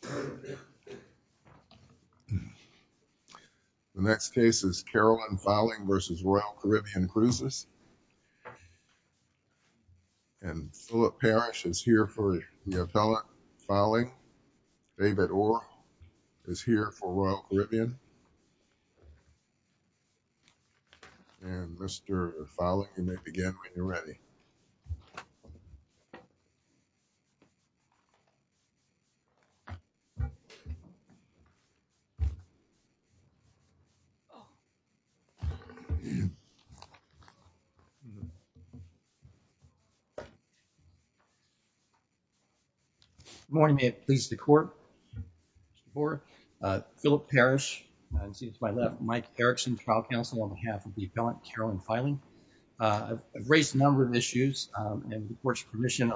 The next case is Carolyn Fylling v. Royal Caribbean Cruises. And Philip Parrish is here for the appellate Fylling. David Orr is here for Royal Caribbean. And Mr. Fyling, you may begin when you're ready. Good morning, may it please the court, Philip Parrish, it seems to my left, Mike Erickson, trial counsel on behalf of the appellate Carolyn Fylling. I've raised a number of issues and the court's permission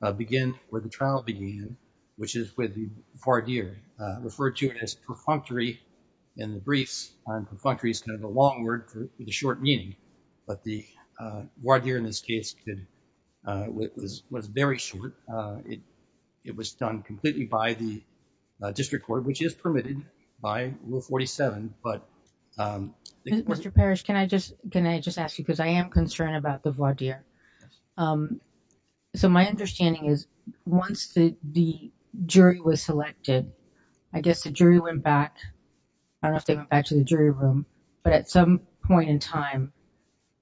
to begin where the trial began, which is with the voir dire, referred to as perfunctory in the briefs. And perfunctory is kind of a long word with a short meaning. But the voir dire in this case was very short. It was done completely by the district court, which is permitted by Rule 47. Mr. Parrish, can I just can I just ask you, because I am concerned about the voir dire. So my understanding is once the jury was selected, I guess the jury went back. I don't know if they went back to the jury room, but at some point in time,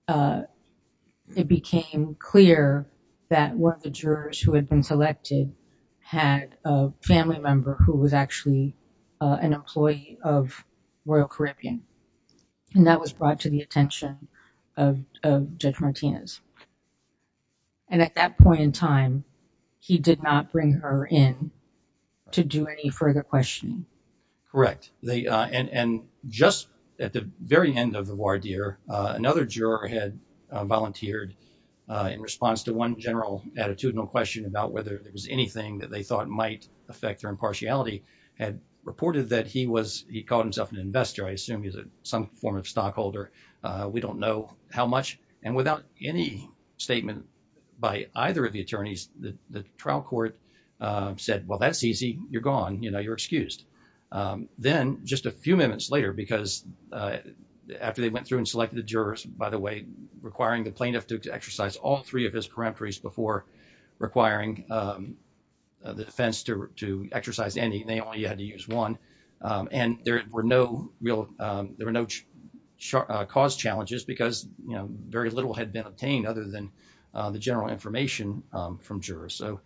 it became clear that one of the jurors who had been selected had a family member who was actually an employee of Royal Caribbean, and that was brought to the attention of Judge Martinez. And at that point in time, he did not bring her in to do any further questioning. Correct. And just at the very end of the voir dire, another juror had volunteered in response to one general attitudinal question about whether there was anything that they thought might affect their impartiality, had reported that he was he called himself an investor. I assume he's some form of stockholder. We don't know how much. And without any statement by either of the attorneys, the trial court said, well, that's easy. You're gone. You know, you're excused. Then just a few minutes later, because after they went through and selected the jurors, by the way, requiring the plaintiff to exercise all three of his peremptories before requiring the defense to exercise any. They only had to use one. And there were no real there were no cause challenges because, you know, very little had been obtained other than the general information from jurors. So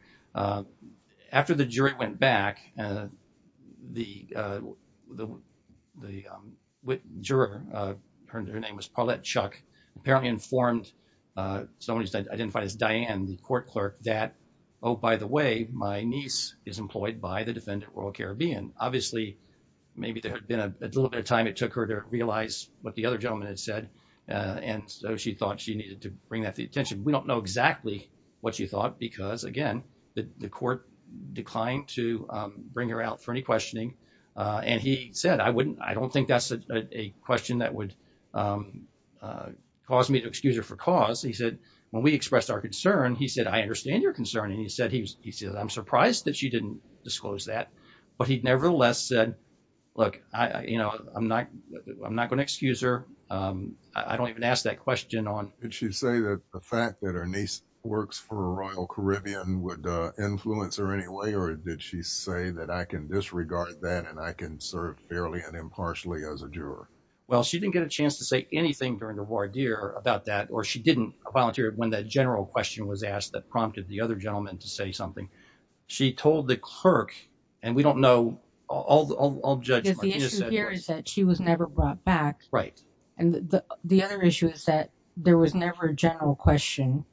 after the jury went back and the the the juror, her name was Paulette Chuck, apparently informed someone identified as Diane, the court clerk, that, oh, by the way, my niece is employed by the defendant Royal Caribbean. Obviously, maybe there had been a little bit of time. It took her to realize what the other gentleman had said. And so she thought she needed to bring that to the attention. We don't know exactly what you thought, because, again, the court declined to bring her out for any questioning. And he said, I wouldn't I don't think that's a question that would cause me to excuse her for cause. He said, when we expressed our concern, he said, I understand your concern. And he said, he said, I'm surprised that you didn't disclose that. But he nevertheless said, look, you know, I'm not I'm not going to excuse her. I don't even ask that question on. Did she say that the fact that her niece works for Royal Caribbean would influence her anyway, or did she say that I can disregard that and I can serve fairly and impartially as a juror? Well, she didn't get a chance to say anything during the war, dear, about that, or she didn't volunteer when that general question was asked that prompted the other gentleman to say something. She told the clerk and we don't know. The issue here is that she was never brought back. Right. And the other issue is that there was never a general question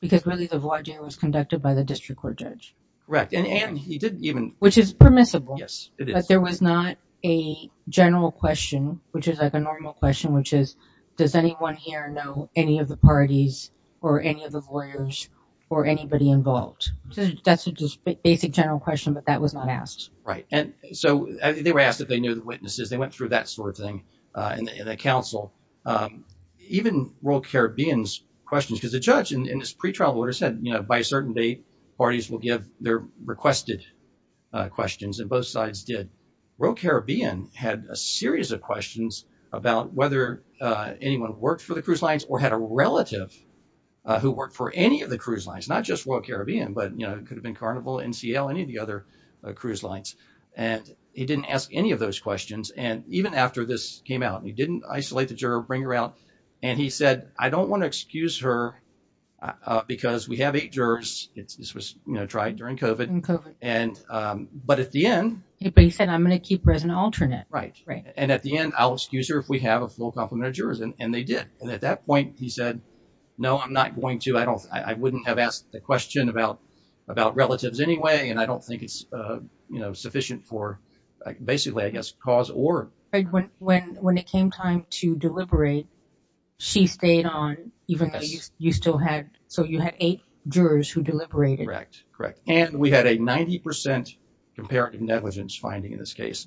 because really, the voyagee was conducted by the district court judge. Correct. And he didn't even which is permissible. Yes, it is. But there was not a general question, which is like a normal question, which is does anyone here know any of the parties or any of the lawyers or anybody involved? That's a basic general question, but that was not asked. Right. And so they were asked if they knew the witnesses. They went through that sort of thing in the council, even Royal Caribbean's questions, because the judge in this pre-trial order said, you know, by a certain date, parties will give their requested questions and both sides did. Royal Caribbean had a series of questions about whether anyone worked for the cruise lines or had a relative who worked for any of the cruise lines, not just Royal Caribbean, but, you know, it could have been Carnival, NCL, any of the other cruise lines. And he didn't ask any of those questions. And even after this came out, he didn't isolate the juror, bring her out. And he said, I don't want to excuse her because we have eight jurors. This was, you know, tried during COVID and COVID. And but at the end, he said, I'm going to keep her as an alternate. Right. Right. And at the end, I'll excuse her if we have a full complement of jurors. And they did. And at that point, he said, no, I'm not going to. But I don't I wouldn't have asked the question about about relatives anyway. And I don't think it's sufficient for basically, I guess, cause or. When when it came time to deliberate, she stayed on, even though you still had. So you had eight jurors who deliberated. Correct. Correct. And we had a 90 percent comparative negligence finding in this case,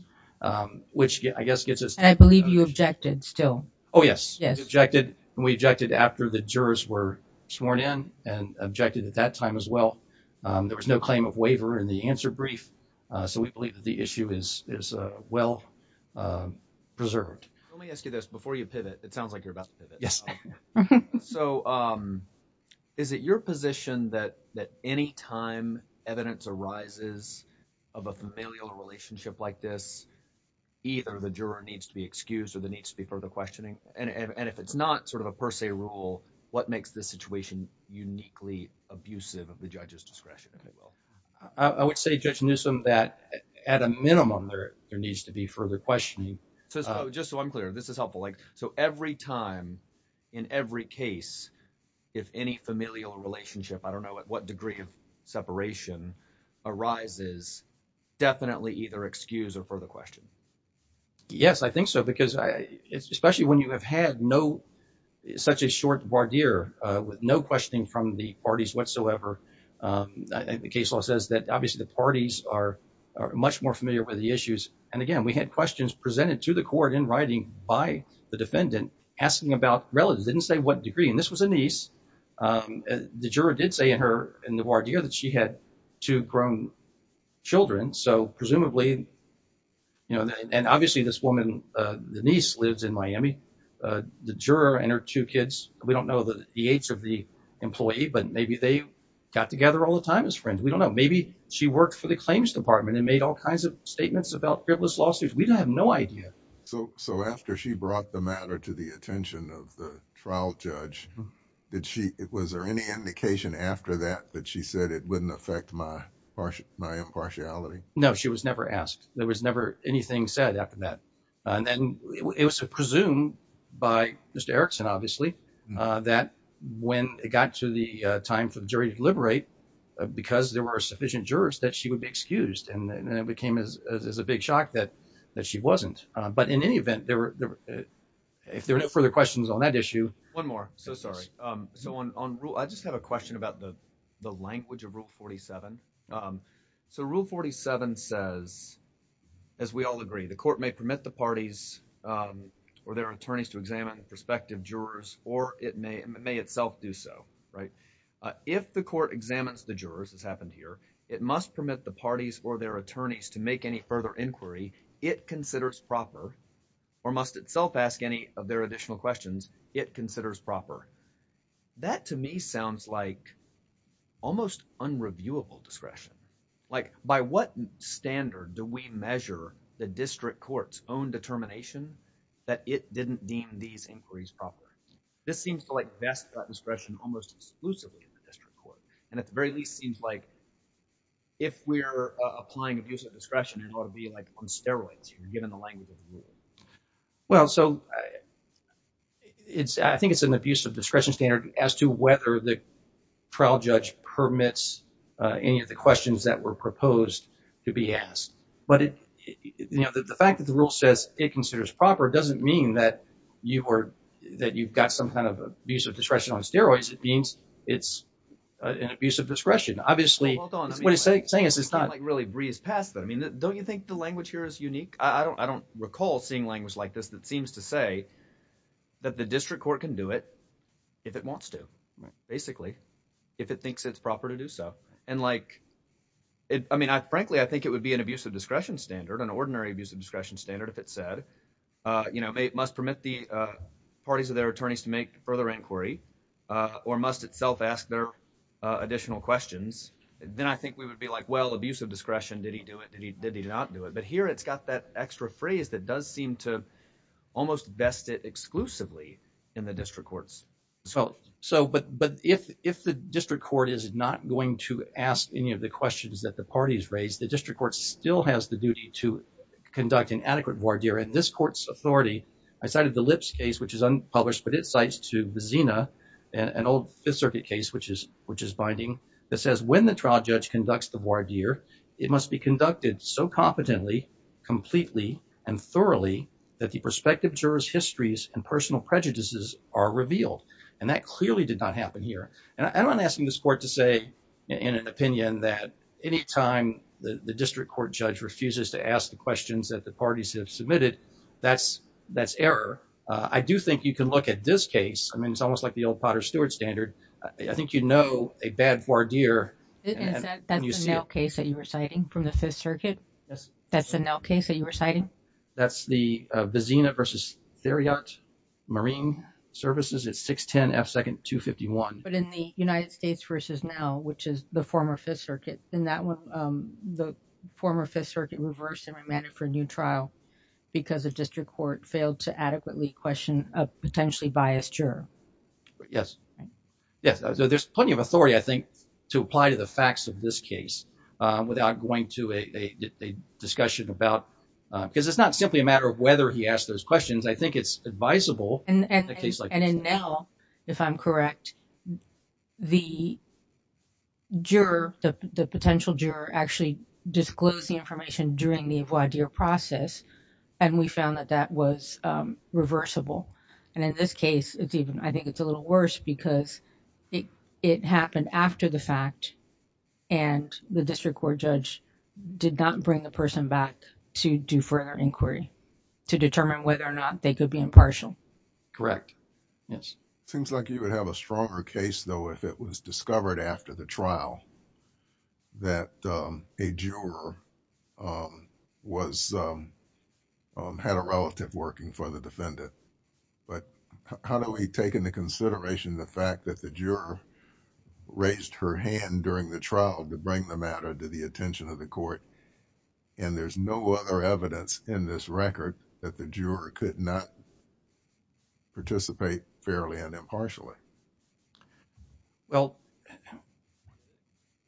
which I guess gets us. I believe you objected still. Oh, yes. Yes. We objected and we objected after the jurors were sworn in and objected at that time as well. There was no claim of waiver in the answer brief. So we believe that the issue is is well preserved. Let me ask you this before you pivot. It sounds like you're about. Yes. So is it your position that that any time evidence arises of a familial relationship like this, either the juror needs to be excused or there needs to be further questioning? And if it's not sort of a per se rule, what makes this situation uniquely abusive of the judge's discretion? I would say, Judge Newsome, that at a minimum, there needs to be further questioning. So just so I'm clear, this is helpful. So every time in every case, if any familial relationship, I don't know what degree of separation arises, definitely either excuse or further question. Yes, I think so, because especially when you have had no such a short voir dire with no questioning from the parties whatsoever, the case law says that obviously the parties are much more familiar with the issues. And again, we had questions presented to the court in writing by the defendant asking about relatives. And this was a niece. The juror did say in her in the voir dire that she had two grown children. So presumably, you know, and obviously this woman, the niece lives in Miami, the juror and her two kids. We don't know the age of the employee, but maybe they got together all the time as friends. We don't know. Maybe she worked for the claims department and made all kinds of statements about frivolous lawsuits. We don't have no idea. So so after she brought the matter to the attention of the trial judge, did she was there any indication after that that she said it wouldn't affect my impartiality? No, she was never asked. There was never anything said after that. And then it was presumed by Mr. Erickson, obviously, that when it got to the time for the jury to liberate, because there were sufficient jurors that she would be excused. And then it became as a big shock that that she wasn't. But in any event, there were if there were no further questions on that issue. One more. So sorry. So on. I just have a question about the the language of Rule 47. So Rule 47 says, as we all agree, the court may permit the parties or their attorneys to examine prospective jurors or it may it may itself do so. If the court examines the jurors, as happened here, it must permit the parties or their attorneys to make any further inquiry. It considers proper or must itself ask any of their additional questions. It considers proper. That to me sounds like almost unreviewable discretion. Like by what standard do we measure the district court's own determination that it didn't deem these inquiries proper? This seems to like best discretion almost exclusively in the district court. And at the very least, seems like. If we're applying abuse of discretion, it ought to be like on steroids, given the language of the rule. Well, so it's I think it's an abuse of discretion standard as to whether the trial judge permits any of the questions that were proposed to be asked. But the fact that the rule says it considers proper doesn't mean that you are that you've got some kind of abuse of discretion on steroids. It means it's an abuse of discretion. Obviously, what it's saying is it's not like really breezed past. But I mean, don't you think the language here is unique? I don't I don't recall seeing language like this that seems to say that the district court can do it if it wants to basically if it thinks it's proper to do so. I mean, frankly, I think it would be an abuse of discretion standard, an ordinary abuse of discretion standard, if it said it must permit the parties of their attorneys to make further inquiry or must itself ask their additional questions. Then I think we would be like, well, abuse of discretion. Did he do it? Did he did he not do it? But here it's got that extra phrase that does seem to almost best it exclusively in the district courts. So but but if if the district court is not going to ask any of the questions that the parties raise, the district court still has the duty to conduct an adequate voir dire in this court's authority. I cited the lips case, which is unpublished, but it cites to the Xena and old Fifth Circuit case, which is which is binding. It says when the trial judge conducts the voir dire, it must be conducted so competently, completely and thoroughly that the prospective jurors histories and personal prejudices are revealed. And that clearly did not happen here. And I'm asking this court to say in an opinion that any time the district court judge refuses to ask the questions that the parties have submitted, that's that's error. I do think you can look at this case. I mean, it's almost like the old Potter Stewart standard. I think, you know, a bad voir dire. That's a case that you were citing from the Fifth Circuit. Yes, that's a case that you were citing. That's the Xena versus Theriot Marine Services. It's six ten second two fifty one. But in the United States versus now, which is the former Fifth Circuit in that one, the former Fifth Circuit reversed and remanded for a new trial because the district court failed to adequately question a potentially biased juror. Yes, yes. There's plenty of authority, I think, to apply to the facts of this case without going to a discussion about because it's not simply a matter of whether he asked those questions. I think it's advisable. And in now, if I'm correct, the juror, the potential juror actually disclosed the information during the voir dire process. And we found that that was reversible. And in this case, it's even I think it's a little worse because it happened after the fact and the district court judge did not bring the person back to do further inquiry to determine whether or not they could be impartial. Correct. Yes. Seems like you would have a stronger case, though, if it was discovered after the trial. That a juror was had a relative working for the defendant, but how do we take into consideration the fact that the juror raised her hand during the trial to bring the matter to the attention of the court? And there's no other evidence in this record that the juror could not. Participate fairly and impartially. Well.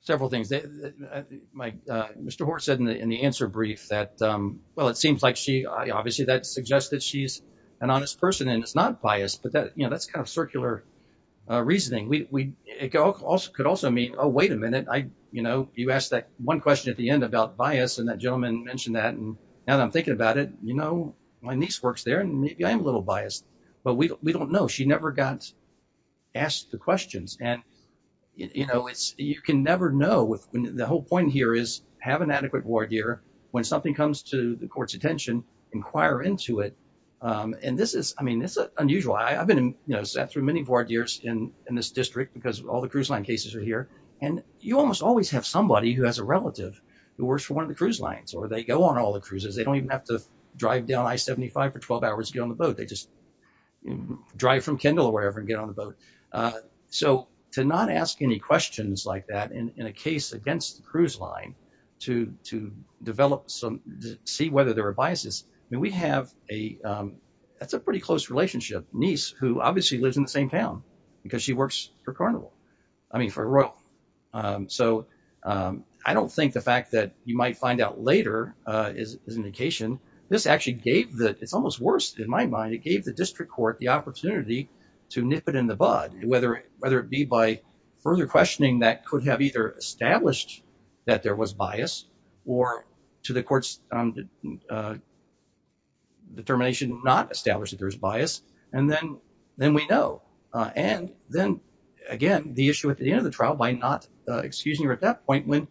Several things. Mike, Mr. Horton said in the answer brief that, well, it seems like she obviously that suggests that she's an honest person and it's not biased, but that's kind of circular reasoning. We also could also mean, oh, wait a minute. You know, you asked that one question at the end about bias and that gentleman mentioned that. And now that I'm thinking about it, you know, my niece works there and maybe I'm a little biased, but we don't know. She never got asked the questions. And, you know, it's you can never know with the whole point here is have an adequate ward here when something comes to the court's attention, inquire into it. And this is I mean, it's unusual. I've been, you know, sat through many board years in this district because all the cruise line cases are here. And you almost always have somebody who has a relative who works for one of the cruise lines or they go on all the cruises. They don't even have to drive down I-75 for 12 hours to get on the boat. They just drive from Kendall or wherever and get on the boat. So to not ask any questions like that in a case against the cruise line to to develop some see whether there are biases. I mean, we have a that's a pretty close relationship. Niece, who obviously lives in the same town because she works for Carnival. I mean, for Royal. So I don't think the fact that you might find out later is an indication. This actually gave that it's almost worse in my mind. It gave the district court the opportunity to nip it in the bud, whether whether it be by further questioning. That could have either established that there was bias or to the courts. Determination not established that there is bias. And then then we know. And then again, the issue at the end of the trial, why not? Excusing her at that point when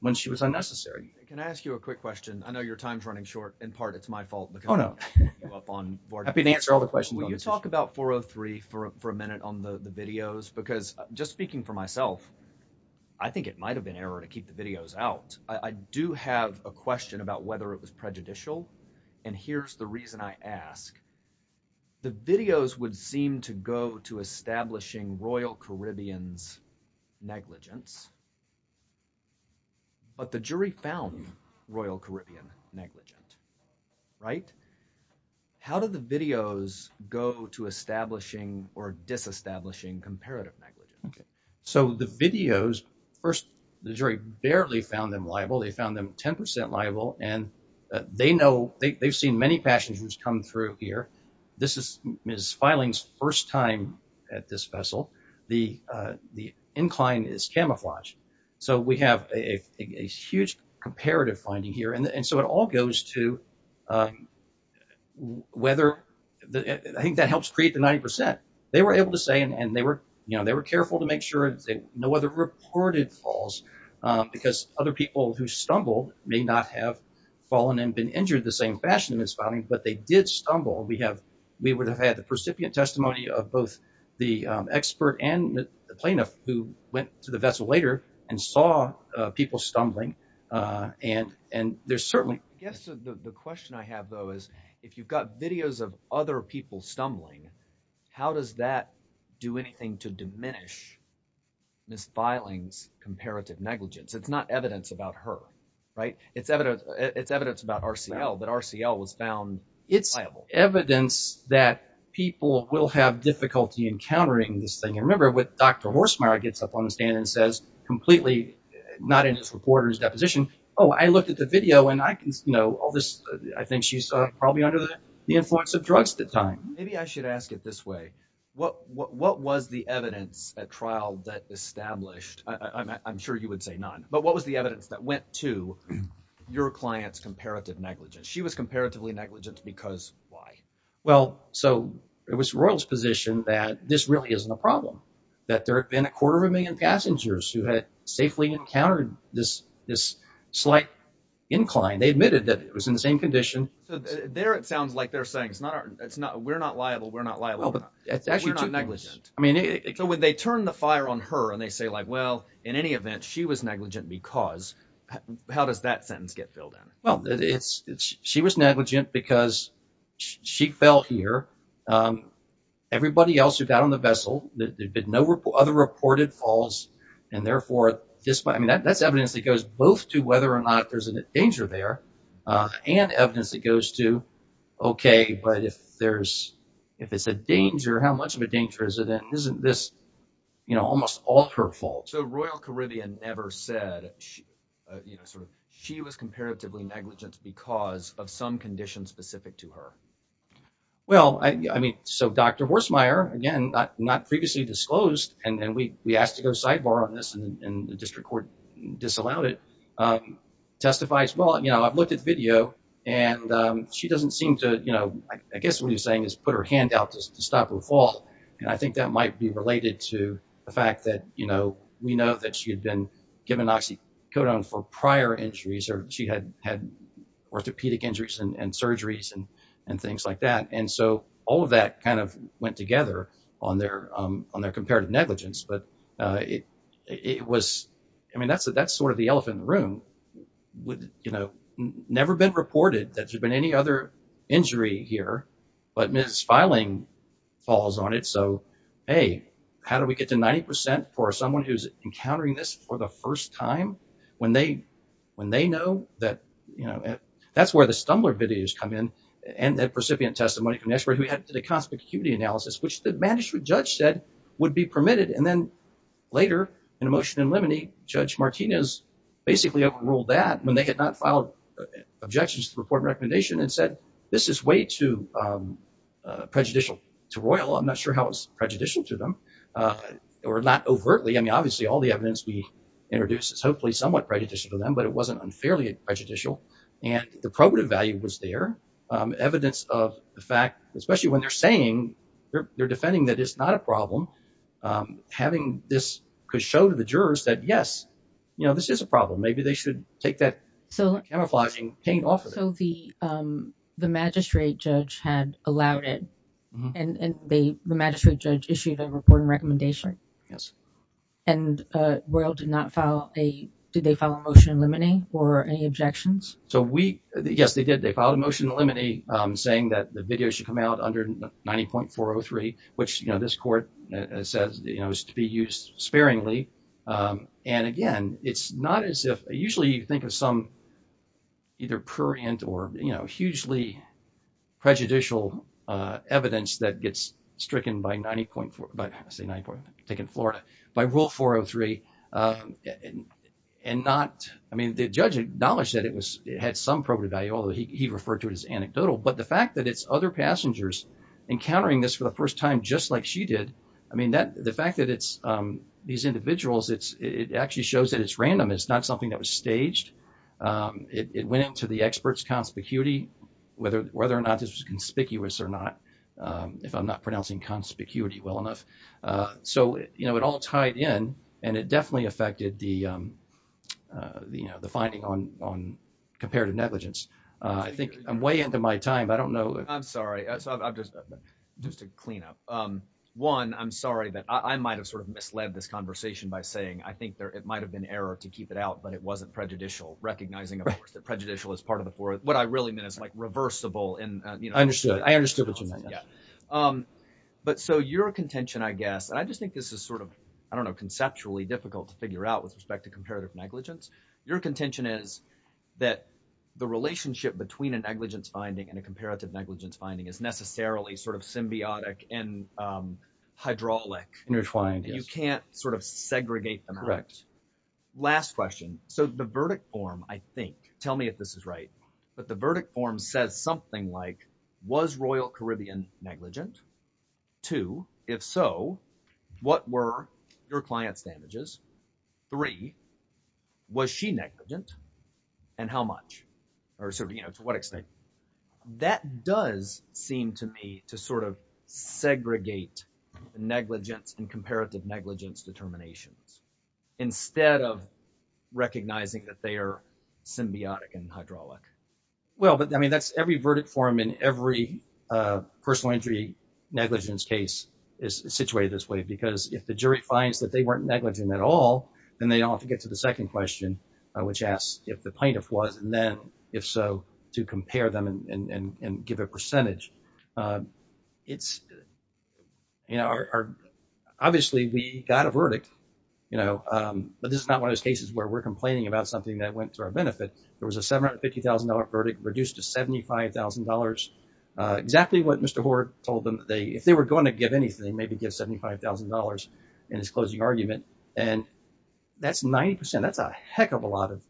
when she was unnecessary. Can I ask you a quick question? I know your time's running short. In part, it's my fault. Oh, no. I've been answer all the questions. Will you talk about four or three for a minute on the videos? Because just speaking for myself, I think it might have been error to keep the videos out. I do have a question about whether it was prejudicial. And here's the reason I ask. The videos would seem to go to establishing Royal Caribbean's negligence. But the jury found Royal Caribbean negligent. Right. How did the videos go to establishing or disestablishing comparative? So the videos first, the jury barely found them liable. They found them 10 percent liable. And they know they've seen many passengers come through here. This is Miss Filing's first time at this vessel. The the incline is camouflaged. So we have a huge comparative finding here. And so it all goes to whether I think that helps create the 90 percent. They were able to say and they were, you know, they were careful to make sure that no other reported falls, because other people who stumbled may not have fallen and been injured the same fashion as falling. But they did stumble. We have we would have had the percipient testimony of both the expert and the plaintiff who went to the vessel later and saw people stumbling. And and there's certainly yes. The question I have, though, is if you've got videos of other people stumbling, how does that do anything to diminish Miss Filing's comparative negligence? It's not evidence about her. Right. It's evidence. It's evidence about RCL that RCL was found. It's evidence that people will have difficulty encountering this thing. And remember what Dr. Horsemire gets up on the stand and says completely not in his reporter's deposition. Oh, I looked at the video and I know all this. I think she's probably under the influence of drugs at the time. Maybe I should ask it this way. What what was the evidence at trial that established? I'm sure you would say none. But what was the evidence that went to your client's comparative negligence? She was comparatively negligent because why? Well, so it was Royals position that this really isn't a problem, that there have been a quarter of a million passengers who had safely encountered this this slight incline. They admitted that it was in the same condition there. It sounds like they're saying it's not it's not we're not liable. We're not liable. It's actually negligent. I mean, when they turn the fire on her and they say, like, well, in any event, she was negligent because how does that sentence get filled in? Well, it's she was negligent because she fell here. Everybody else who got on the vessel, there's been no other reported falls. And therefore, I mean, that's evidence that goes both to whether or not there's a danger there and evidence that goes to. OK, but if there's if it's a danger, how much of a danger is it? Isn't this almost all her fault? So Royal Caribbean never said she sort of she was comparatively negligent because of some conditions specific to her. Well, I mean, so Dr. Horsemeyer, again, not previously disclosed. And then we we asked to go sidebar on this and the district court disallowed it testifies. Well, you know, I've looked at video and she doesn't seem to, you know, I guess what you're saying is put her hand out to stop her fall. And I think that might be related to the fact that, you know, we know that she had been given oxycodone for prior injuries or she had had orthopedic injuries and surgeries and and things like that. And so all of that kind of went together on their on their comparative negligence. But it was I mean, that's that's sort of the elephant in the room with, you know, never been reported that there's been any other injury here. But Ms. Filing falls on it. So, hey, how do we get to 90 percent for someone who's encountering this for the first time when they when they know that, you know, that's where the Stumbler videos come in. So, you know, I think there's a lot of evidence of the fact, especially when they're saying they're defending that it's not a problem. Having this could show to the jurors that, yes, you know, this is a problem. Maybe they should take that. So camouflaging came off of the magistrate judge had allowed it and the magistrate judge issued a reporting recommendation. Yes. And Royal did not file a. Did they file a motion limiting or any objections? So we. Yes, they did. They filed a motion limiting, saying that the video should come out under ninety point four or three, which this court says is to be used sparingly. And again, it's not as if usually you think of some. Either prurient or, you know, hugely prejudicial evidence that gets stricken by ninety point four. But I say nine point take in Florida by rule four or three and not. I mean, the judge acknowledged that it was it had some probative value, although he referred to it as anecdotal. But the fact that it's other passengers encountering this for the first time, just like she did. I mean, that the fact that it's these individuals, it's it actually shows that it's random. It's not something that was staged. It went into the experts conspicuity, whether whether or not this was conspicuous or not, if I'm not pronouncing conspicuity well enough. So, you know, it all tied in and it definitely affected the, you know, the finding on on comparative negligence. I think I'm way into my time. I don't know. I'm sorry. So just to clean up one, I'm sorry that I might have sort of misled this conversation by saying I think it might have been error to keep it out. But it wasn't prejudicial, recognizing that prejudicial is part of the board. What I really meant is like reversible. And I understood. I understood what you meant. But so your contention, I guess, I just think this is sort of, I don't know, conceptually difficult to figure out with respect to comparative negligence. Your contention is that the relationship between a negligence finding and a comparative negligence finding is necessarily sort of symbiotic and hydraulic intertwined. You can't sort of segregate them. Correct. Last question. So the verdict form, I think. Tell me if this is right. But the verdict form says something like was Royal Caribbean negligent to if so, what were your client's damages? Three, was she negligent and how much or sort of, you know, to what extent? That does seem to me to sort of segregate negligence and comparative negligence determinations instead of recognizing that they are symbiotic and hydraulic. Well, but I mean, that's every verdict form in every personal injury negligence case is situated this way, because if the jury finds that they weren't negligent at all, then they don't have to get to the second question, which asks if the plaintiff was and then if so, to compare them and give a percentage. It's. Obviously, we got a verdict, you know, but this is not one of those cases where we're complaining about something that went to our benefit. There was a seven hundred fifty thousand dollar verdict reduced to seventy five thousand dollars. Exactly what Mr. Hoard told them. If they were going to give anything, maybe get seventy five thousand dollars in his closing argument. And that's 90 percent. That's a heck of a lot of.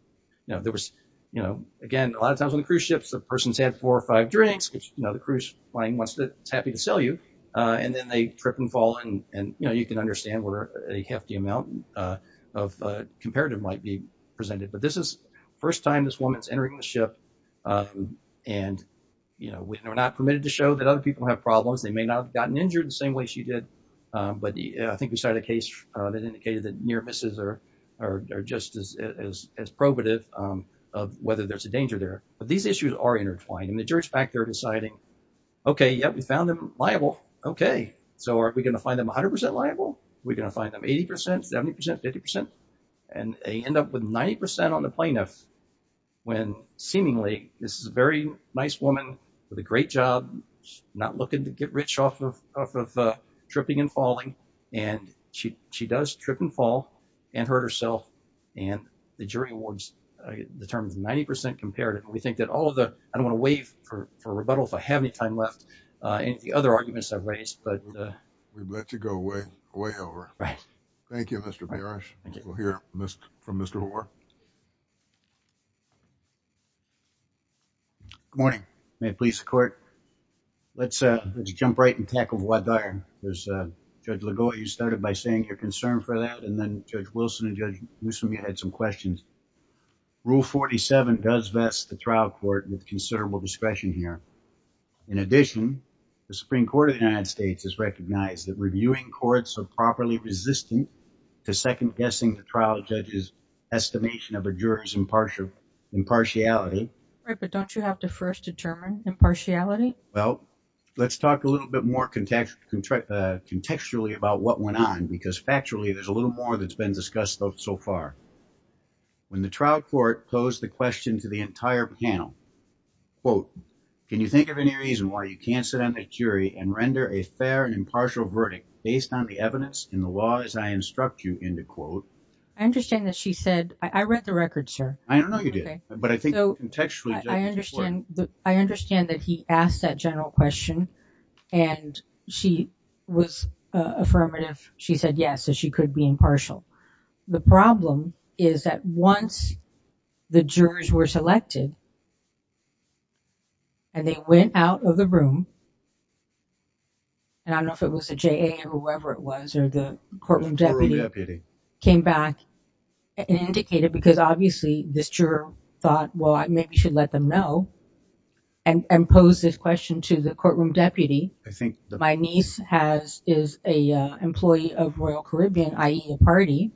You know, there was, you know, again, a lot of times on cruise ships, the person's had four or five drinks. You know, the cruise plane wants to. It's happy to sell you. And then they trip and fall. And, you know, you can understand where a hefty amount of comparative might be presented. But this is the first time this woman is entering the ship. And, you know, we are not permitted to show that other people have problems. They may not have gotten injured the same way she did. But I think we started a case that indicated that near misses are just as probative of whether there's a danger there. But these issues are intertwined in the jury's back. They're deciding, OK, yeah, we found them liable. OK, so are we going to find them 100 percent liable? We're going to find them 80 percent, 70 percent, 50 percent. And they end up with 90 percent on the plaintiff when seemingly this is a very nice woman with a great job, not looking to get rich off of tripping and falling. And she she does trip and fall and hurt herself. And the jury awards the terms 90 percent comparative. We think that all of the I don't want to waive for rebuttal if I have any time left. And the other arguments I've raised, but we've let you go way, way over. Thank you, Mr. Barish. We'll hear from Mr. Hoare. Good morning, police court. Let's let's jump right in. Tackle what there is. Judge Legault, you started by saying you're concerned for that. And then Judge Wilson and Judge Newsome, you had some questions. Rule 47 does vest the trial court with considerable discretion here. In addition, the Supreme Court of the United States has recognized that reviewing courts are properly resistant to second guessing. The trial judge's estimation of a juror's impartial impartiality. But don't you have to first determine impartiality? Well, let's talk a little bit more. Contextually about what went on, because factually, there's a little more that's been discussed so far. When the trial court posed the question to the entire panel. Well, can you think of any reason why you can't sit on a jury and render a fair and impartial verdict based on the evidence in the law, as I instruct you in the court? I understand that she said I read the record, sir. I don't know. But I think so. I understand. I understand that he asked that general question and she was affirmative. She said yes, so she could be impartial. The problem is that once the jurors were selected. And they went out of the room. And I don't know if it was a J.A. or whoever it was, or the courtroom deputy came back and indicated because obviously this juror thought, well, I maybe should let them know. And pose this question to the courtroom deputy. I think my niece has is a employee of Royal Caribbean, i.e. a party.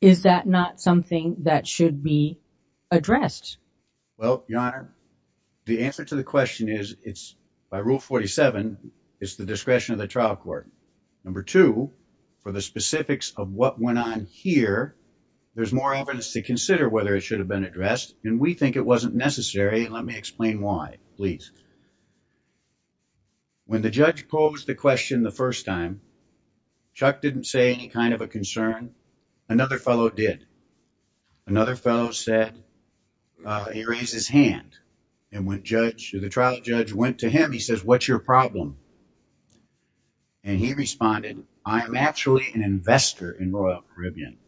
Is that not something that should be addressed? Well, your honor, the answer to the question is it's by Rule 47. It's the discretion of the trial court. Number two, for the specifics of what went on here, there's more evidence to consider whether it should have been addressed. And we think it wasn't necessary. Let me explain why, please. When the judge posed the question the first time, Chuck didn't say any kind of a concern. Another fellow did. Another fellow said he raised his hand. And when the trial judge went to him, he says, what's your problem? And he responded, I'm actually an investor in Royal Caribbean.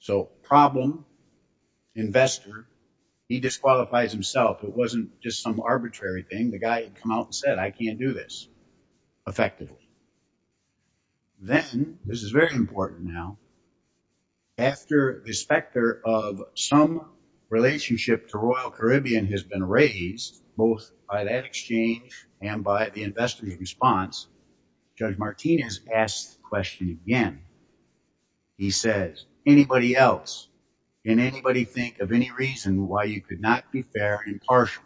So problem, investor, he disqualifies himself. It wasn't just some arbitrary thing. The guy had come out and said, I can't do this effectively. Then, this is very important now, after the specter of some relationship to Royal Caribbean has been raised, both by that exchange and by the investor's response, Judge Martinez asked the question again. He says, anybody else, can anybody think of any reason why you could not be fair and impartial?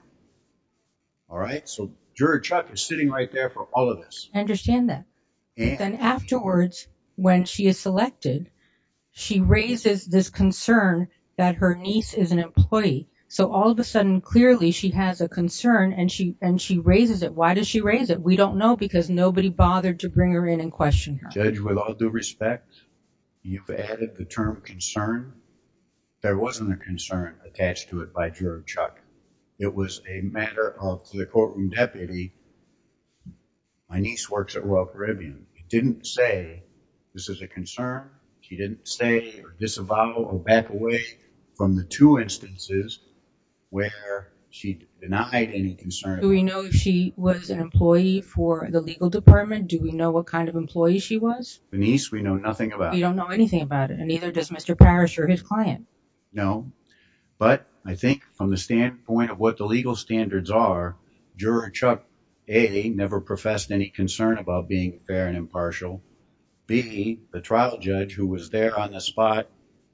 All right, so juror Chuck is sitting right there for all of this. I understand that. Then afterwards, when she is selected, she raises this concern that her niece is an employee. So all of a sudden, clearly, she has a concern and she raises it. Why does she raise it? We don't know because nobody bothered to bring her in and question her. Judge, with all due respect, you've added the term concern. There wasn't a concern attached to it by juror Chuck. It was a matter of the courtroom deputy. My niece works at Royal Caribbean. She didn't say this is a concern. She didn't say or disavow or back away from the two instances where she denied any concern. Do we know if she was an employee for the legal department? Do we know what kind of employee she was? The niece, we know nothing about. We don't know anything about it. And neither does Mr. Parrish or his client. No, but I think from the standpoint of what the legal standards are, juror Chuck, A, never professed any concern about being fair and impartial. B, the trial judge who was there on the spot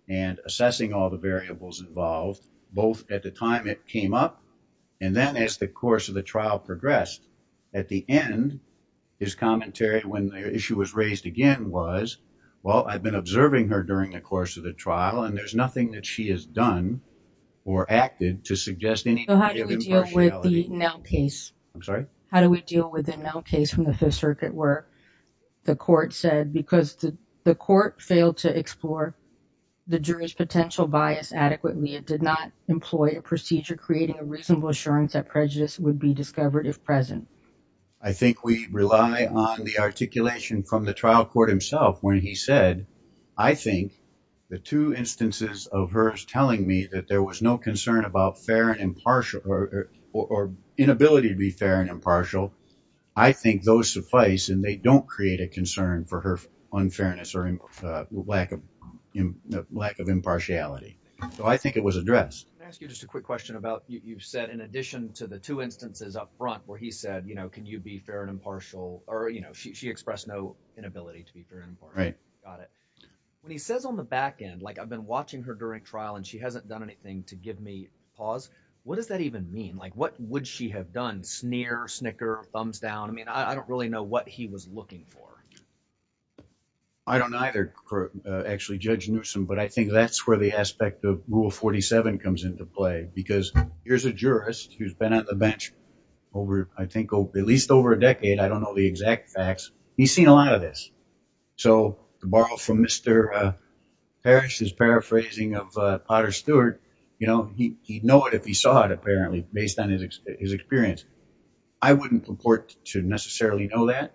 and assessing all the variables involved, both at the time it came up and then as the course of the trial progressed. At the end, his commentary when the issue was raised again was, well, I've been observing her during the course of the trial and there's nothing that she has done or acted to suggest any impartiality. So how do we deal with the Nell case? I'm sorry? How do we deal with the Nell case from the Fifth Circuit where the court said, because the court failed to explore the jury's potential bias adequately, it did not employ a procedure creating a reasonable assurance that prejudice would be discovered if present. I think we rely on the articulation from the trial court himself when he said, I think the two instances of hers telling me that there was no concern about fair and impartial or inability to be fair and impartial. I think those suffice and they don't create a concern for her unfairness or lack of lack of impartiality. So I think it was addressed. Can I ask you just a quick question about you've said in addition to the two instances up front where he said, you know, can you be fair and impartial or, you know, she expressed no inability to be fair and impartial. Right. Got it. When he says on the back end, like I've been watching her during trial and she hasn't done anything to give me pause. What does that even mean? Like what would she have done? Sneer, snicker, thumbs down. I mean, I don't really know what he was looking for. I don't either, actually, Judge Newsome, but I think that's where the aspect of rule 47 comes into play, because here's a jurist who's been on the bench over, I think, at least over a decade. I don't know the exact facts. He's seen a lot of this. So to borrow from Mr. Parrish's paraphrasing of Potter Stewart, you know, he'd know it if he saw it, apparently, based on his experience. I wouldn't purport to necessarily know that.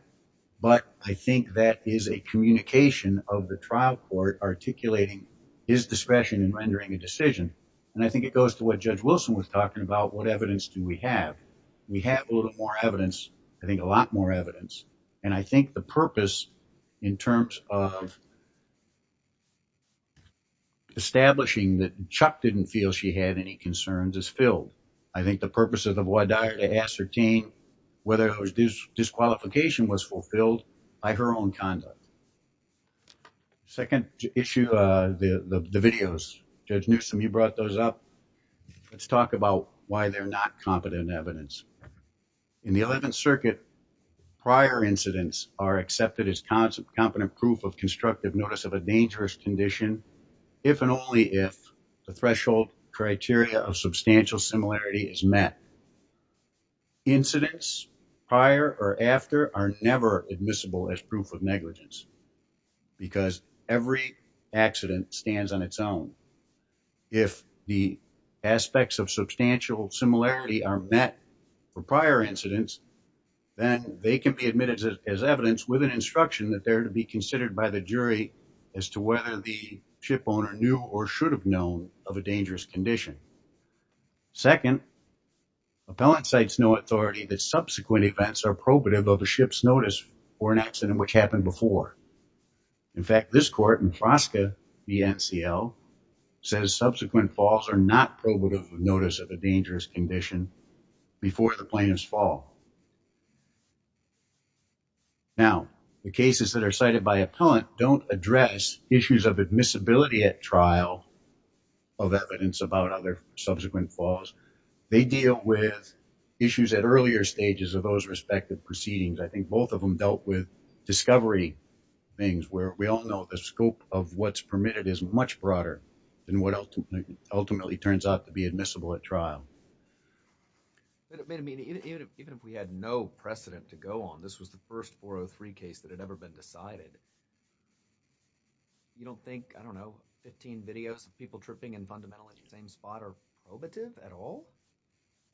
But I think that is a communication of the trial court articulating his discretion in rendering a decision. And I think it goes to what Judge Wilson was talking about. What evidence do we have? We have a little more evidence, I think a lot more evidence. And I think the purpose in terms of establishing that Chuck didn't feel she had any concerns is filled. I think the purpose of the voir dire is to ascertain whether this disqualification was fulfilled by her own conduct. Second issue, the videos. Judge Newsome, you brought those up. Let's talk about why they're not competent evidence. In the 11th Circuit, prior incidents are accepted as competent proof of constructive notice of a dangerous condition, if and only if the threshold criteria of substantial similarity is met. Incidents prior or after are never admissible as proof of negligence because every accident stands on its own. If the aspects of substantial similarity are met for prior incidents, then they can be admitted as evidence with an instruction that they're to be considered by the jury as to whether the ship owner knew or should have known of a dangerous condition. Second, appellant cites no authority that subsequent events are probative of a ship's notice for an accident which happened before. In fact, this court in Frosca v. NCL says subsequent falls are not probative of notice of a dangerous condition before the plaintiff's fall. Now, the cases that are cited by appellant don't address issues of admissibility at trial of evidence about other subsequent falls. They deal with issues at earlier stages of those respective proceedings. I think both of them dealt with discovery things where we all know the scope of what's permitted is much broader than what ultimately turns out to be admissible at trial. Even if we had no precedent to go on, this was the first 403 case that had ever been decided. You don't think, I don't know, 15 videos of people tripping and fundamentally at the same spot are probative at all?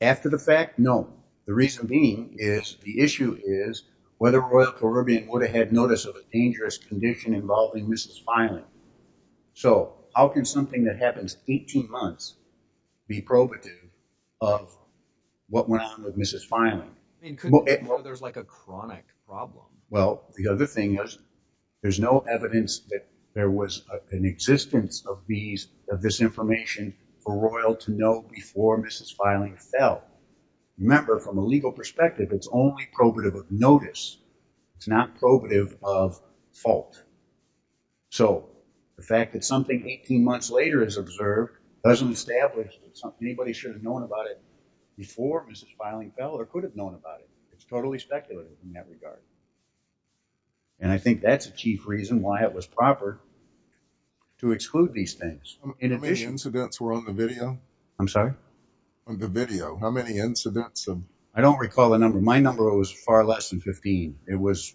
After the fact, no. The reason being is the issue is whether Royal Caribbean would have had notice of a dangerous condition involving Mrs. Filing. So, how can something that happens 18 months be probative of what went on with Mrs. Filing? Well, there's like a chronic problem. Well, the other thing is there's no evidence that there was an existence of this information for Royal to know before Mrs. Filing fell. Remember, from a legal perspective, it's only probative of notice. It's not probative of fault. So, the fact that something 18 months later is observed doesn't establish that anybody should have known about it before Mrs. Filing fell or could have known about it. It's totally speculative in that regard. And I think that's a chief reason why it was proper to exclude these things. How many incidents were on the video? I'm sorry? On the video, how many incidents? I don't recall the number. My number was far less than 15. It was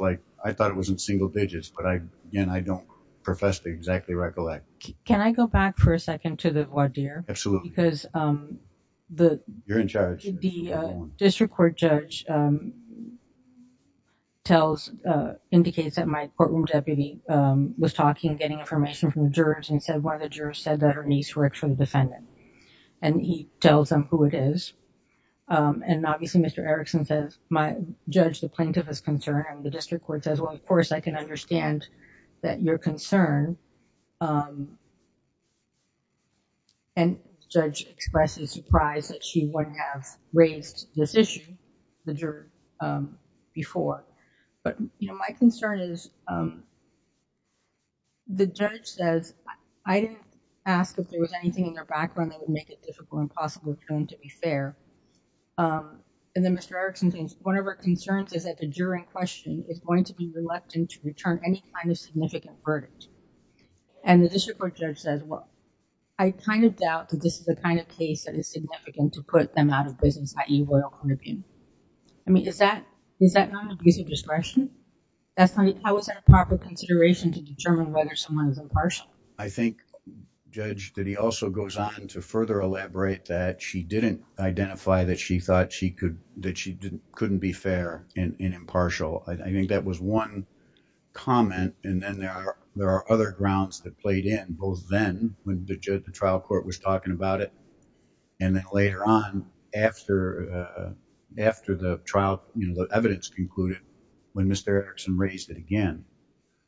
like, I thought it was in single digits, but again, I don't profess to exactly recollect. Can I go back for a second to the voir dire? Absolutely. You're in charge. The district court judge tells, indicates that my courtroom deputy was talking, getting information from the jurors and said one of the jurors said that her niece were actually the defendant. And he tells them who it is. And obviously, Mr. Erickson says, my judge, the plaintiff is concerned. And the district court says, well, of course, I can understand that you're concerned. And the judge expresses surprise that she wouldn't have raised this issue with the juror before. My concern is, the judge says, I didn't ask if there was anything in their background that would make it difficult and possible for them to be fair. And then Mr. Erickson says, one of our concerns is that the juror in question is going to be reluctant to return any kind of significant verdict. And the district court judge says, well, I kind of doubt that this is the kind of case that is significant to put them out of business, i.e., Royal Caribbean. I mean, is that not an abuse of discretion? How is that a proper consideration to determine whether someone is impartial? I think, Judge, that he also goes on to further elaborate that she didn't identify that she thought she couldn't be fair and impartial. I think that was one comment. And then there are there are other grounds that played in both then when the trial court was talking about it. And then later on after after the trial, the evidence concluded when Mr. Erickson raised it again.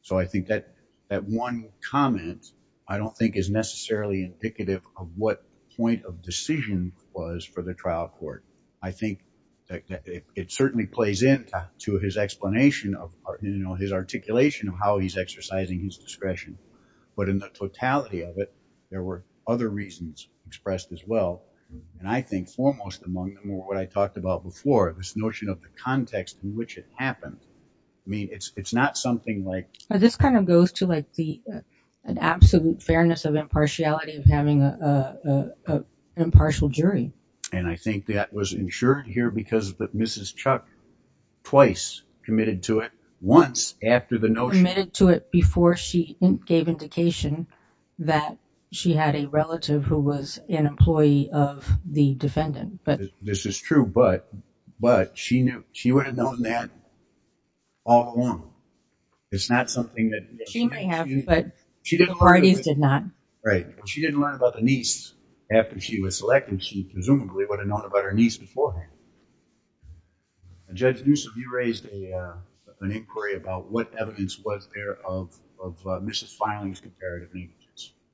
So I think that that one comment, I don't think, is necessarily indicative of what point of decision was for the trial court. I think it certainly plays into his explanation of his articulation of how he's exercising his discretion. But in the totality of it, there were other reasons expressed as well. And I think foremost among them were what I talked about before, this notion of the context in which it happened. I mean, it's not something like this kind of goes to like the absolute fairness of impartiality of having an impartial jury. And I think that was ensured here because that Mrs. Chuck twice committed to it once after the notion committed to it before she gave indication that she had a relative who was an employee of the defendant. But this is true. But but she knew she would have known that all along. It's not something that she may have. But she did. Right. She didn't learn about the niece after she was selected. She presumably would have known about her niece beforehand. Judge Newsome, you raised an inquiry about what evidence was there of Mrs. Filing's comparative.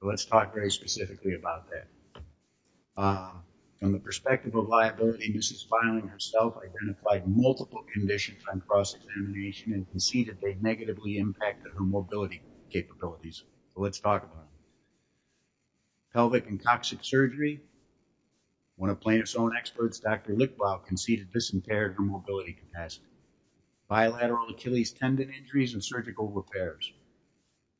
Let's talk very specifically about that. From the perspective of liability, Mrs. Filing herself identified multiple conditions on cross-examination and conceded they negatively impacted her mobility capabilities. Let's talk about. Pelvic and toxic surgery. When a plaintiff's own experts, Dr. Lickbaugh conceded this impaired her mobility capacity. Bilateral Achilles tendon injuries and surgical repairs.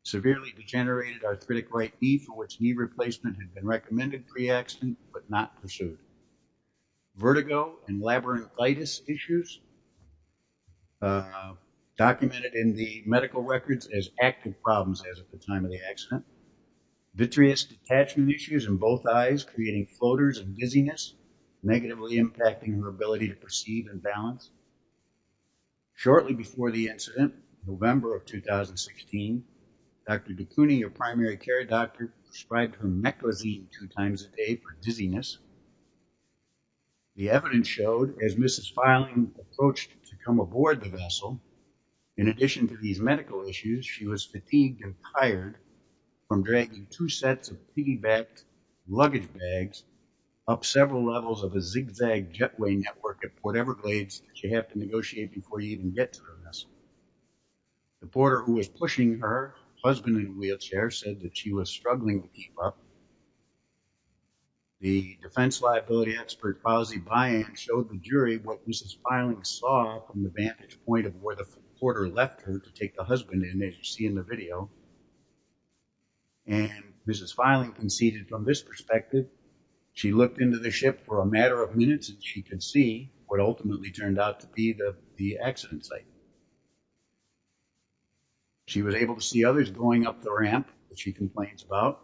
Severely degenerated arthritic right knee for which knee replacement had been recommended pre accident, but not pursued. Vertigo and labyrinthitis issues. Documented in the medical records as active problems as at the time of the accident. Vitreous detachment issues in both eyes, creating floaters and dizziness, negatively impacting her ability to perceive and balance. Shortly before the incident, November of 2016, Dr. DeCuney, a primary care doctor, prescribed her meclizine two times a day for dizziness. The evidence showed as Mrs. Filing approached to come aboard the vessel. In addition to these medical issues, she was fatigued and tired from dragging two sets of piggybacked luggage bags up several levels of a zigzag jetway network at Port Everglades that you have to negotiate before you even get to the vessel. The porter who was pushing her, husband in a wheelchair, said that she was struggling to keep up. The defense liability expert, Fauzi Bayan, showed the jury what Mrs. Filing saw from the vantage point of where the porter left her to take the husband in, as you see in the video. And Mrs. Filing conceded from this perspective. She looked into the ship for a matter of minutes and she could see what ultimately turned out to be the accident site. She was able to see others going up the ramp that she complains about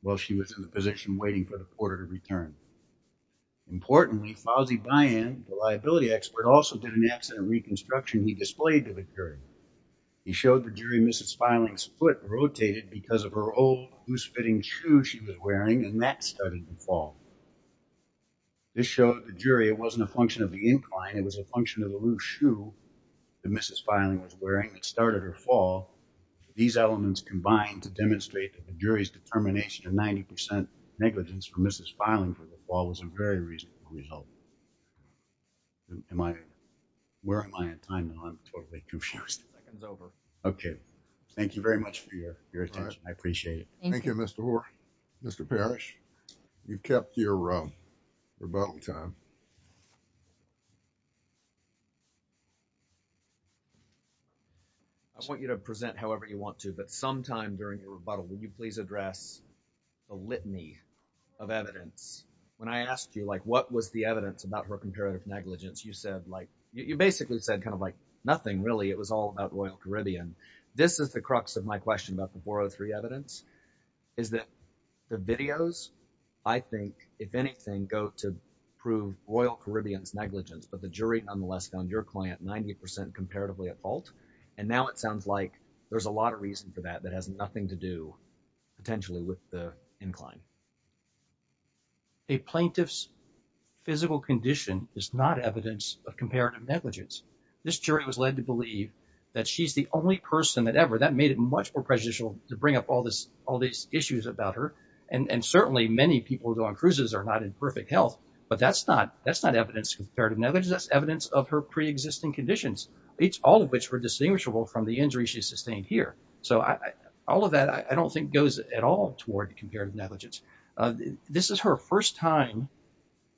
while she was in the position waiting for the porter to return. Importantly, Fauzi Bayan, the liability expert, also did an accident reconstruction he displayed to the jury. He showed the jury Mrs. Filing's foot rotated because of her old goose-fitting shoe she was wearing and that started to fall. This showed the jury it wasn't a function of the incline, it was a function of the loose shoe that Mrs. Filing was wearing that started her fall. These elements combined to demonstrate that the jury's determination of 90% negligence for Mrs. Filing for the fall was a very reasonable result. Where am I in time now? I'm totally confused. Okay, thank you very much for your attention. I appreciate it. Thank you, Mr. Hoare. Mr. Parrish, you kept your rebuttal time. I want you to present however you want to, but sometime during the rebuttal, would you please address the litany of evidence? When I asked you, like, what was the evidence about her comparative negligence? You said, like, you basically said kind of like nothing, really, it was all about Royal Caribbean. This is the crux of my question about the 403 evidence, is that the videos, I think, if anything, go to prove Royal Caribbean's negligence. But the jury nonetheless found your client 90% comparatively at fault. And now it sounds like there's a lot of reason for that that has nothing to do potentially with the incline. A plaintiff's physical condition is not evidence of comparative negligence. This jury was led to believe that she's the only person that ever, that made it much more prejudicial to bring up all these issues about her. And certainly many people who go on cruises are not in perfect health, but that's not evidence of comparative negligence. That's evidence of her preexisting conditions, all of which were distinguishable from the injury she sustained here. So all of that, I don't think, goes at all toward comparative negligence. This is her first time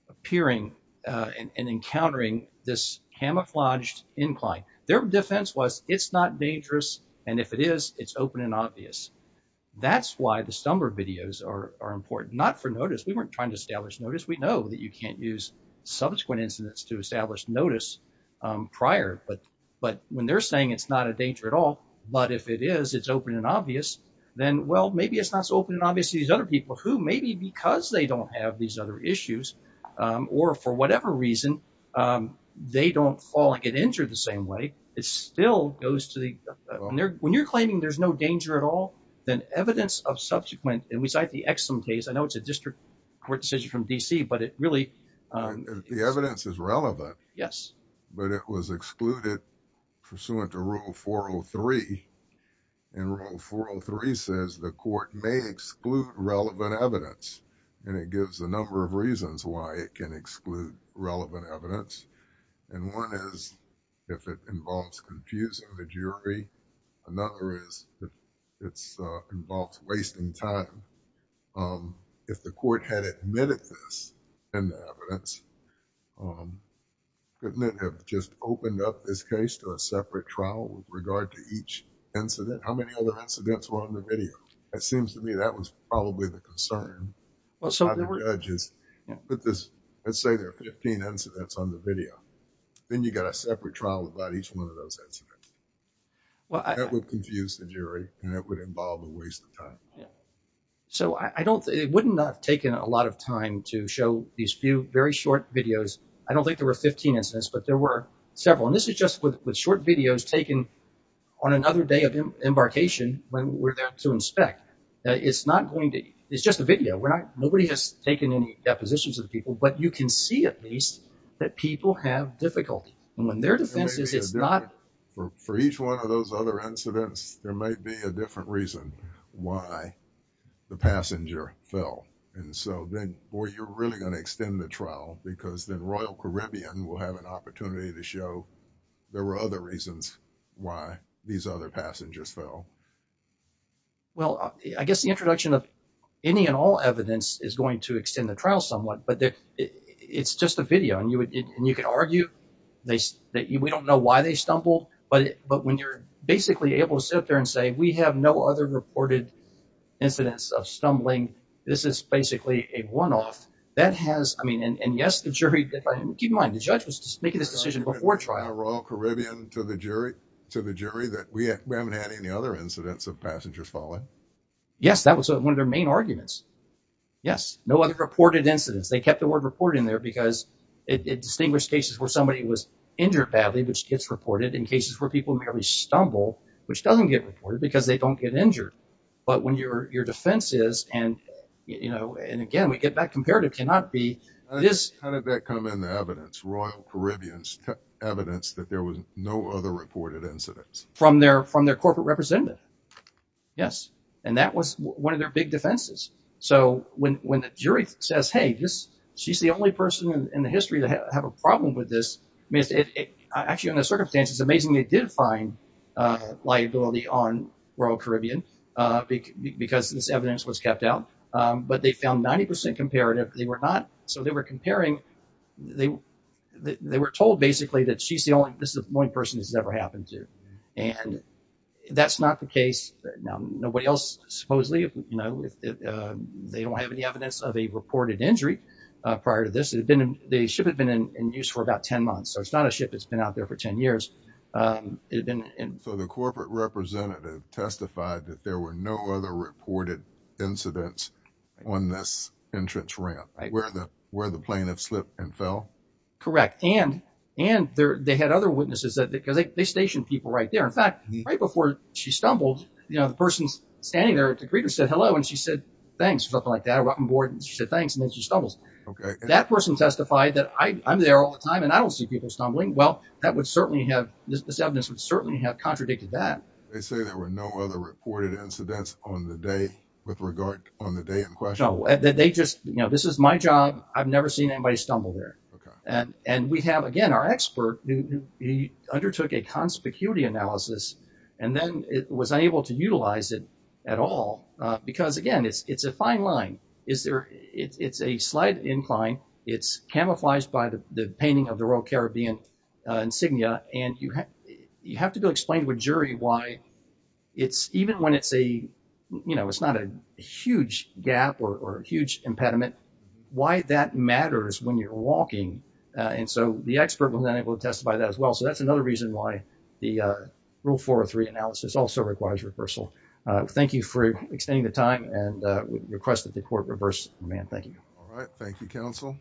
appearing and encountering this camouflaged incline. Their defense was it's not dangerous, and if it is, it's open and obvious. That's why the Stumber videos are important, not for notice. We weren't trying to establish notice. We know that you can't use subsequent incidents to establish notice prior. But when they're saying it's not a danger at all, but if it is, it's open and obvious, then, well, maybe it's not so open and obvious to these other people who maybe because they don't have these other issues or for whatever reason, they don't fall and get injured the same way. It still goes to the when you're claiming there's no danger at all, then evidence of subsequent. And we cite the excellent case. I know it's a district court decision from D.C., but it really. The evidence is relevant. Yes, but it was excluded pursuant to rule 403 and rule 403 says the court may exclude relevant evidence. And it gives a number of reasons why it can exclude relevant evidence. And one is if it involves confusing the jury. Another is if it involves wasting time. If the court had admitted this in the evidence, couldn't it have just opened up this case to a separate trial with regard to each incident? How many other incidents were on the videos? It seems to me that was probably the concern. Well, so there were judges with this. Let's say there are 15 incidents on the video. Then you got a separate trial about each one of those incidents. Well, I would confuse the jury and it would involve a waste of time. So I don't it wouldn't have taken a lot of time to show these few very short videos. I don't think there were 15 incidents, but there were several. And this is just with short videos taken on another day of embarkation when we're there to inspect. It's just a video. Nobody has taken any depositions of the people, but you can see at least that people have difficulty. And when their defense is it's not... For each one of those other incidents, there might be a different reason why the passenger fell. And so then, boy, you're really going to extend the trial because then Royal Caribbean will have an opportunity to show there were other reasons why these other passengers fell. Well, I guess the introduction of any and all evidence is going to extend the trial somewhat. But it's just a video. And you can argue that we don't know why they stumbled. But when you're basically able to sit there and say we have no other reported incidents of stumbling, this is basically a one off. That has I mean, and yes, the jury... Keep in mind, the judge was making this decision before trial. To the jury, to the jury that we haven't had any other incidents of passengers falling. Yes, that was one of their main arguments. Yes, no other reported incidents. They kept the word report in there because it distinguished cases where somebody was injured badly, which gets reported in cases where people merely stumble, which doesn't get reported because they don't get injured. But when your defense is and, you know, and again, we get that comparative cannot be this. Royal Caribbean's evidence that there was no other reported incidents from their from their corporate representative. Yes, and that was one of their big defenses. So when when the jury says, hey, this she's the only person in the history to have a problem with this. I mean, actually, in those circumstances, amazingly, they did find liability on Royal Caribbean because this evidence was kept out. But they found 90 percent comparative. They were not. So they were comparing. They they were told basically that she's the only this one person has ever happened to. And that's not the case. Nobody else supposedly, you know, they don't have any evidence of a reported injury prior to this. It had been the ship had been in use for about 10 months. So it's not a ship that's been out there for 10 years. And so the corporate representative testified that there were no other reported incidents on this entrance ramp where the where the plaintiff slipped and fell. Correct. And and they had other witnesses because they stationed people right there. In fact, right before she stumbled, you know, the person's standing there to greet her, said hello. And she said, thanks for something like that. A rotten board. She said, thanks. And then she stumbles. That person testified that I'm there all the time and I don't see people stumbling. Well, that would certainly have this. This evidence would certainly have contradicted that. They say there were no other reported incidents on the day with regard on the day. So they just you know, this is my job. I've never seen anybody stumble there. And and we have, again, our expert who undertook a conspicuity analysis and then was unable to utilize it at all. Because, again, it's it's a fine line. Is there it's a slight incline. It's camouflaged by the painting of the Royal Caribbean insignia. And you have to go explain to a jury why it's even when it's a you know, it's not a huge gap or a huge impediment. Why that matters when you're walking. And so the expert was unable to testify that as well. So that's another reason why the rule four or three analysis also requires reversal. Thank you for extending the time and request that the court reverse. Man, thank you. All right. Thank you, counsel.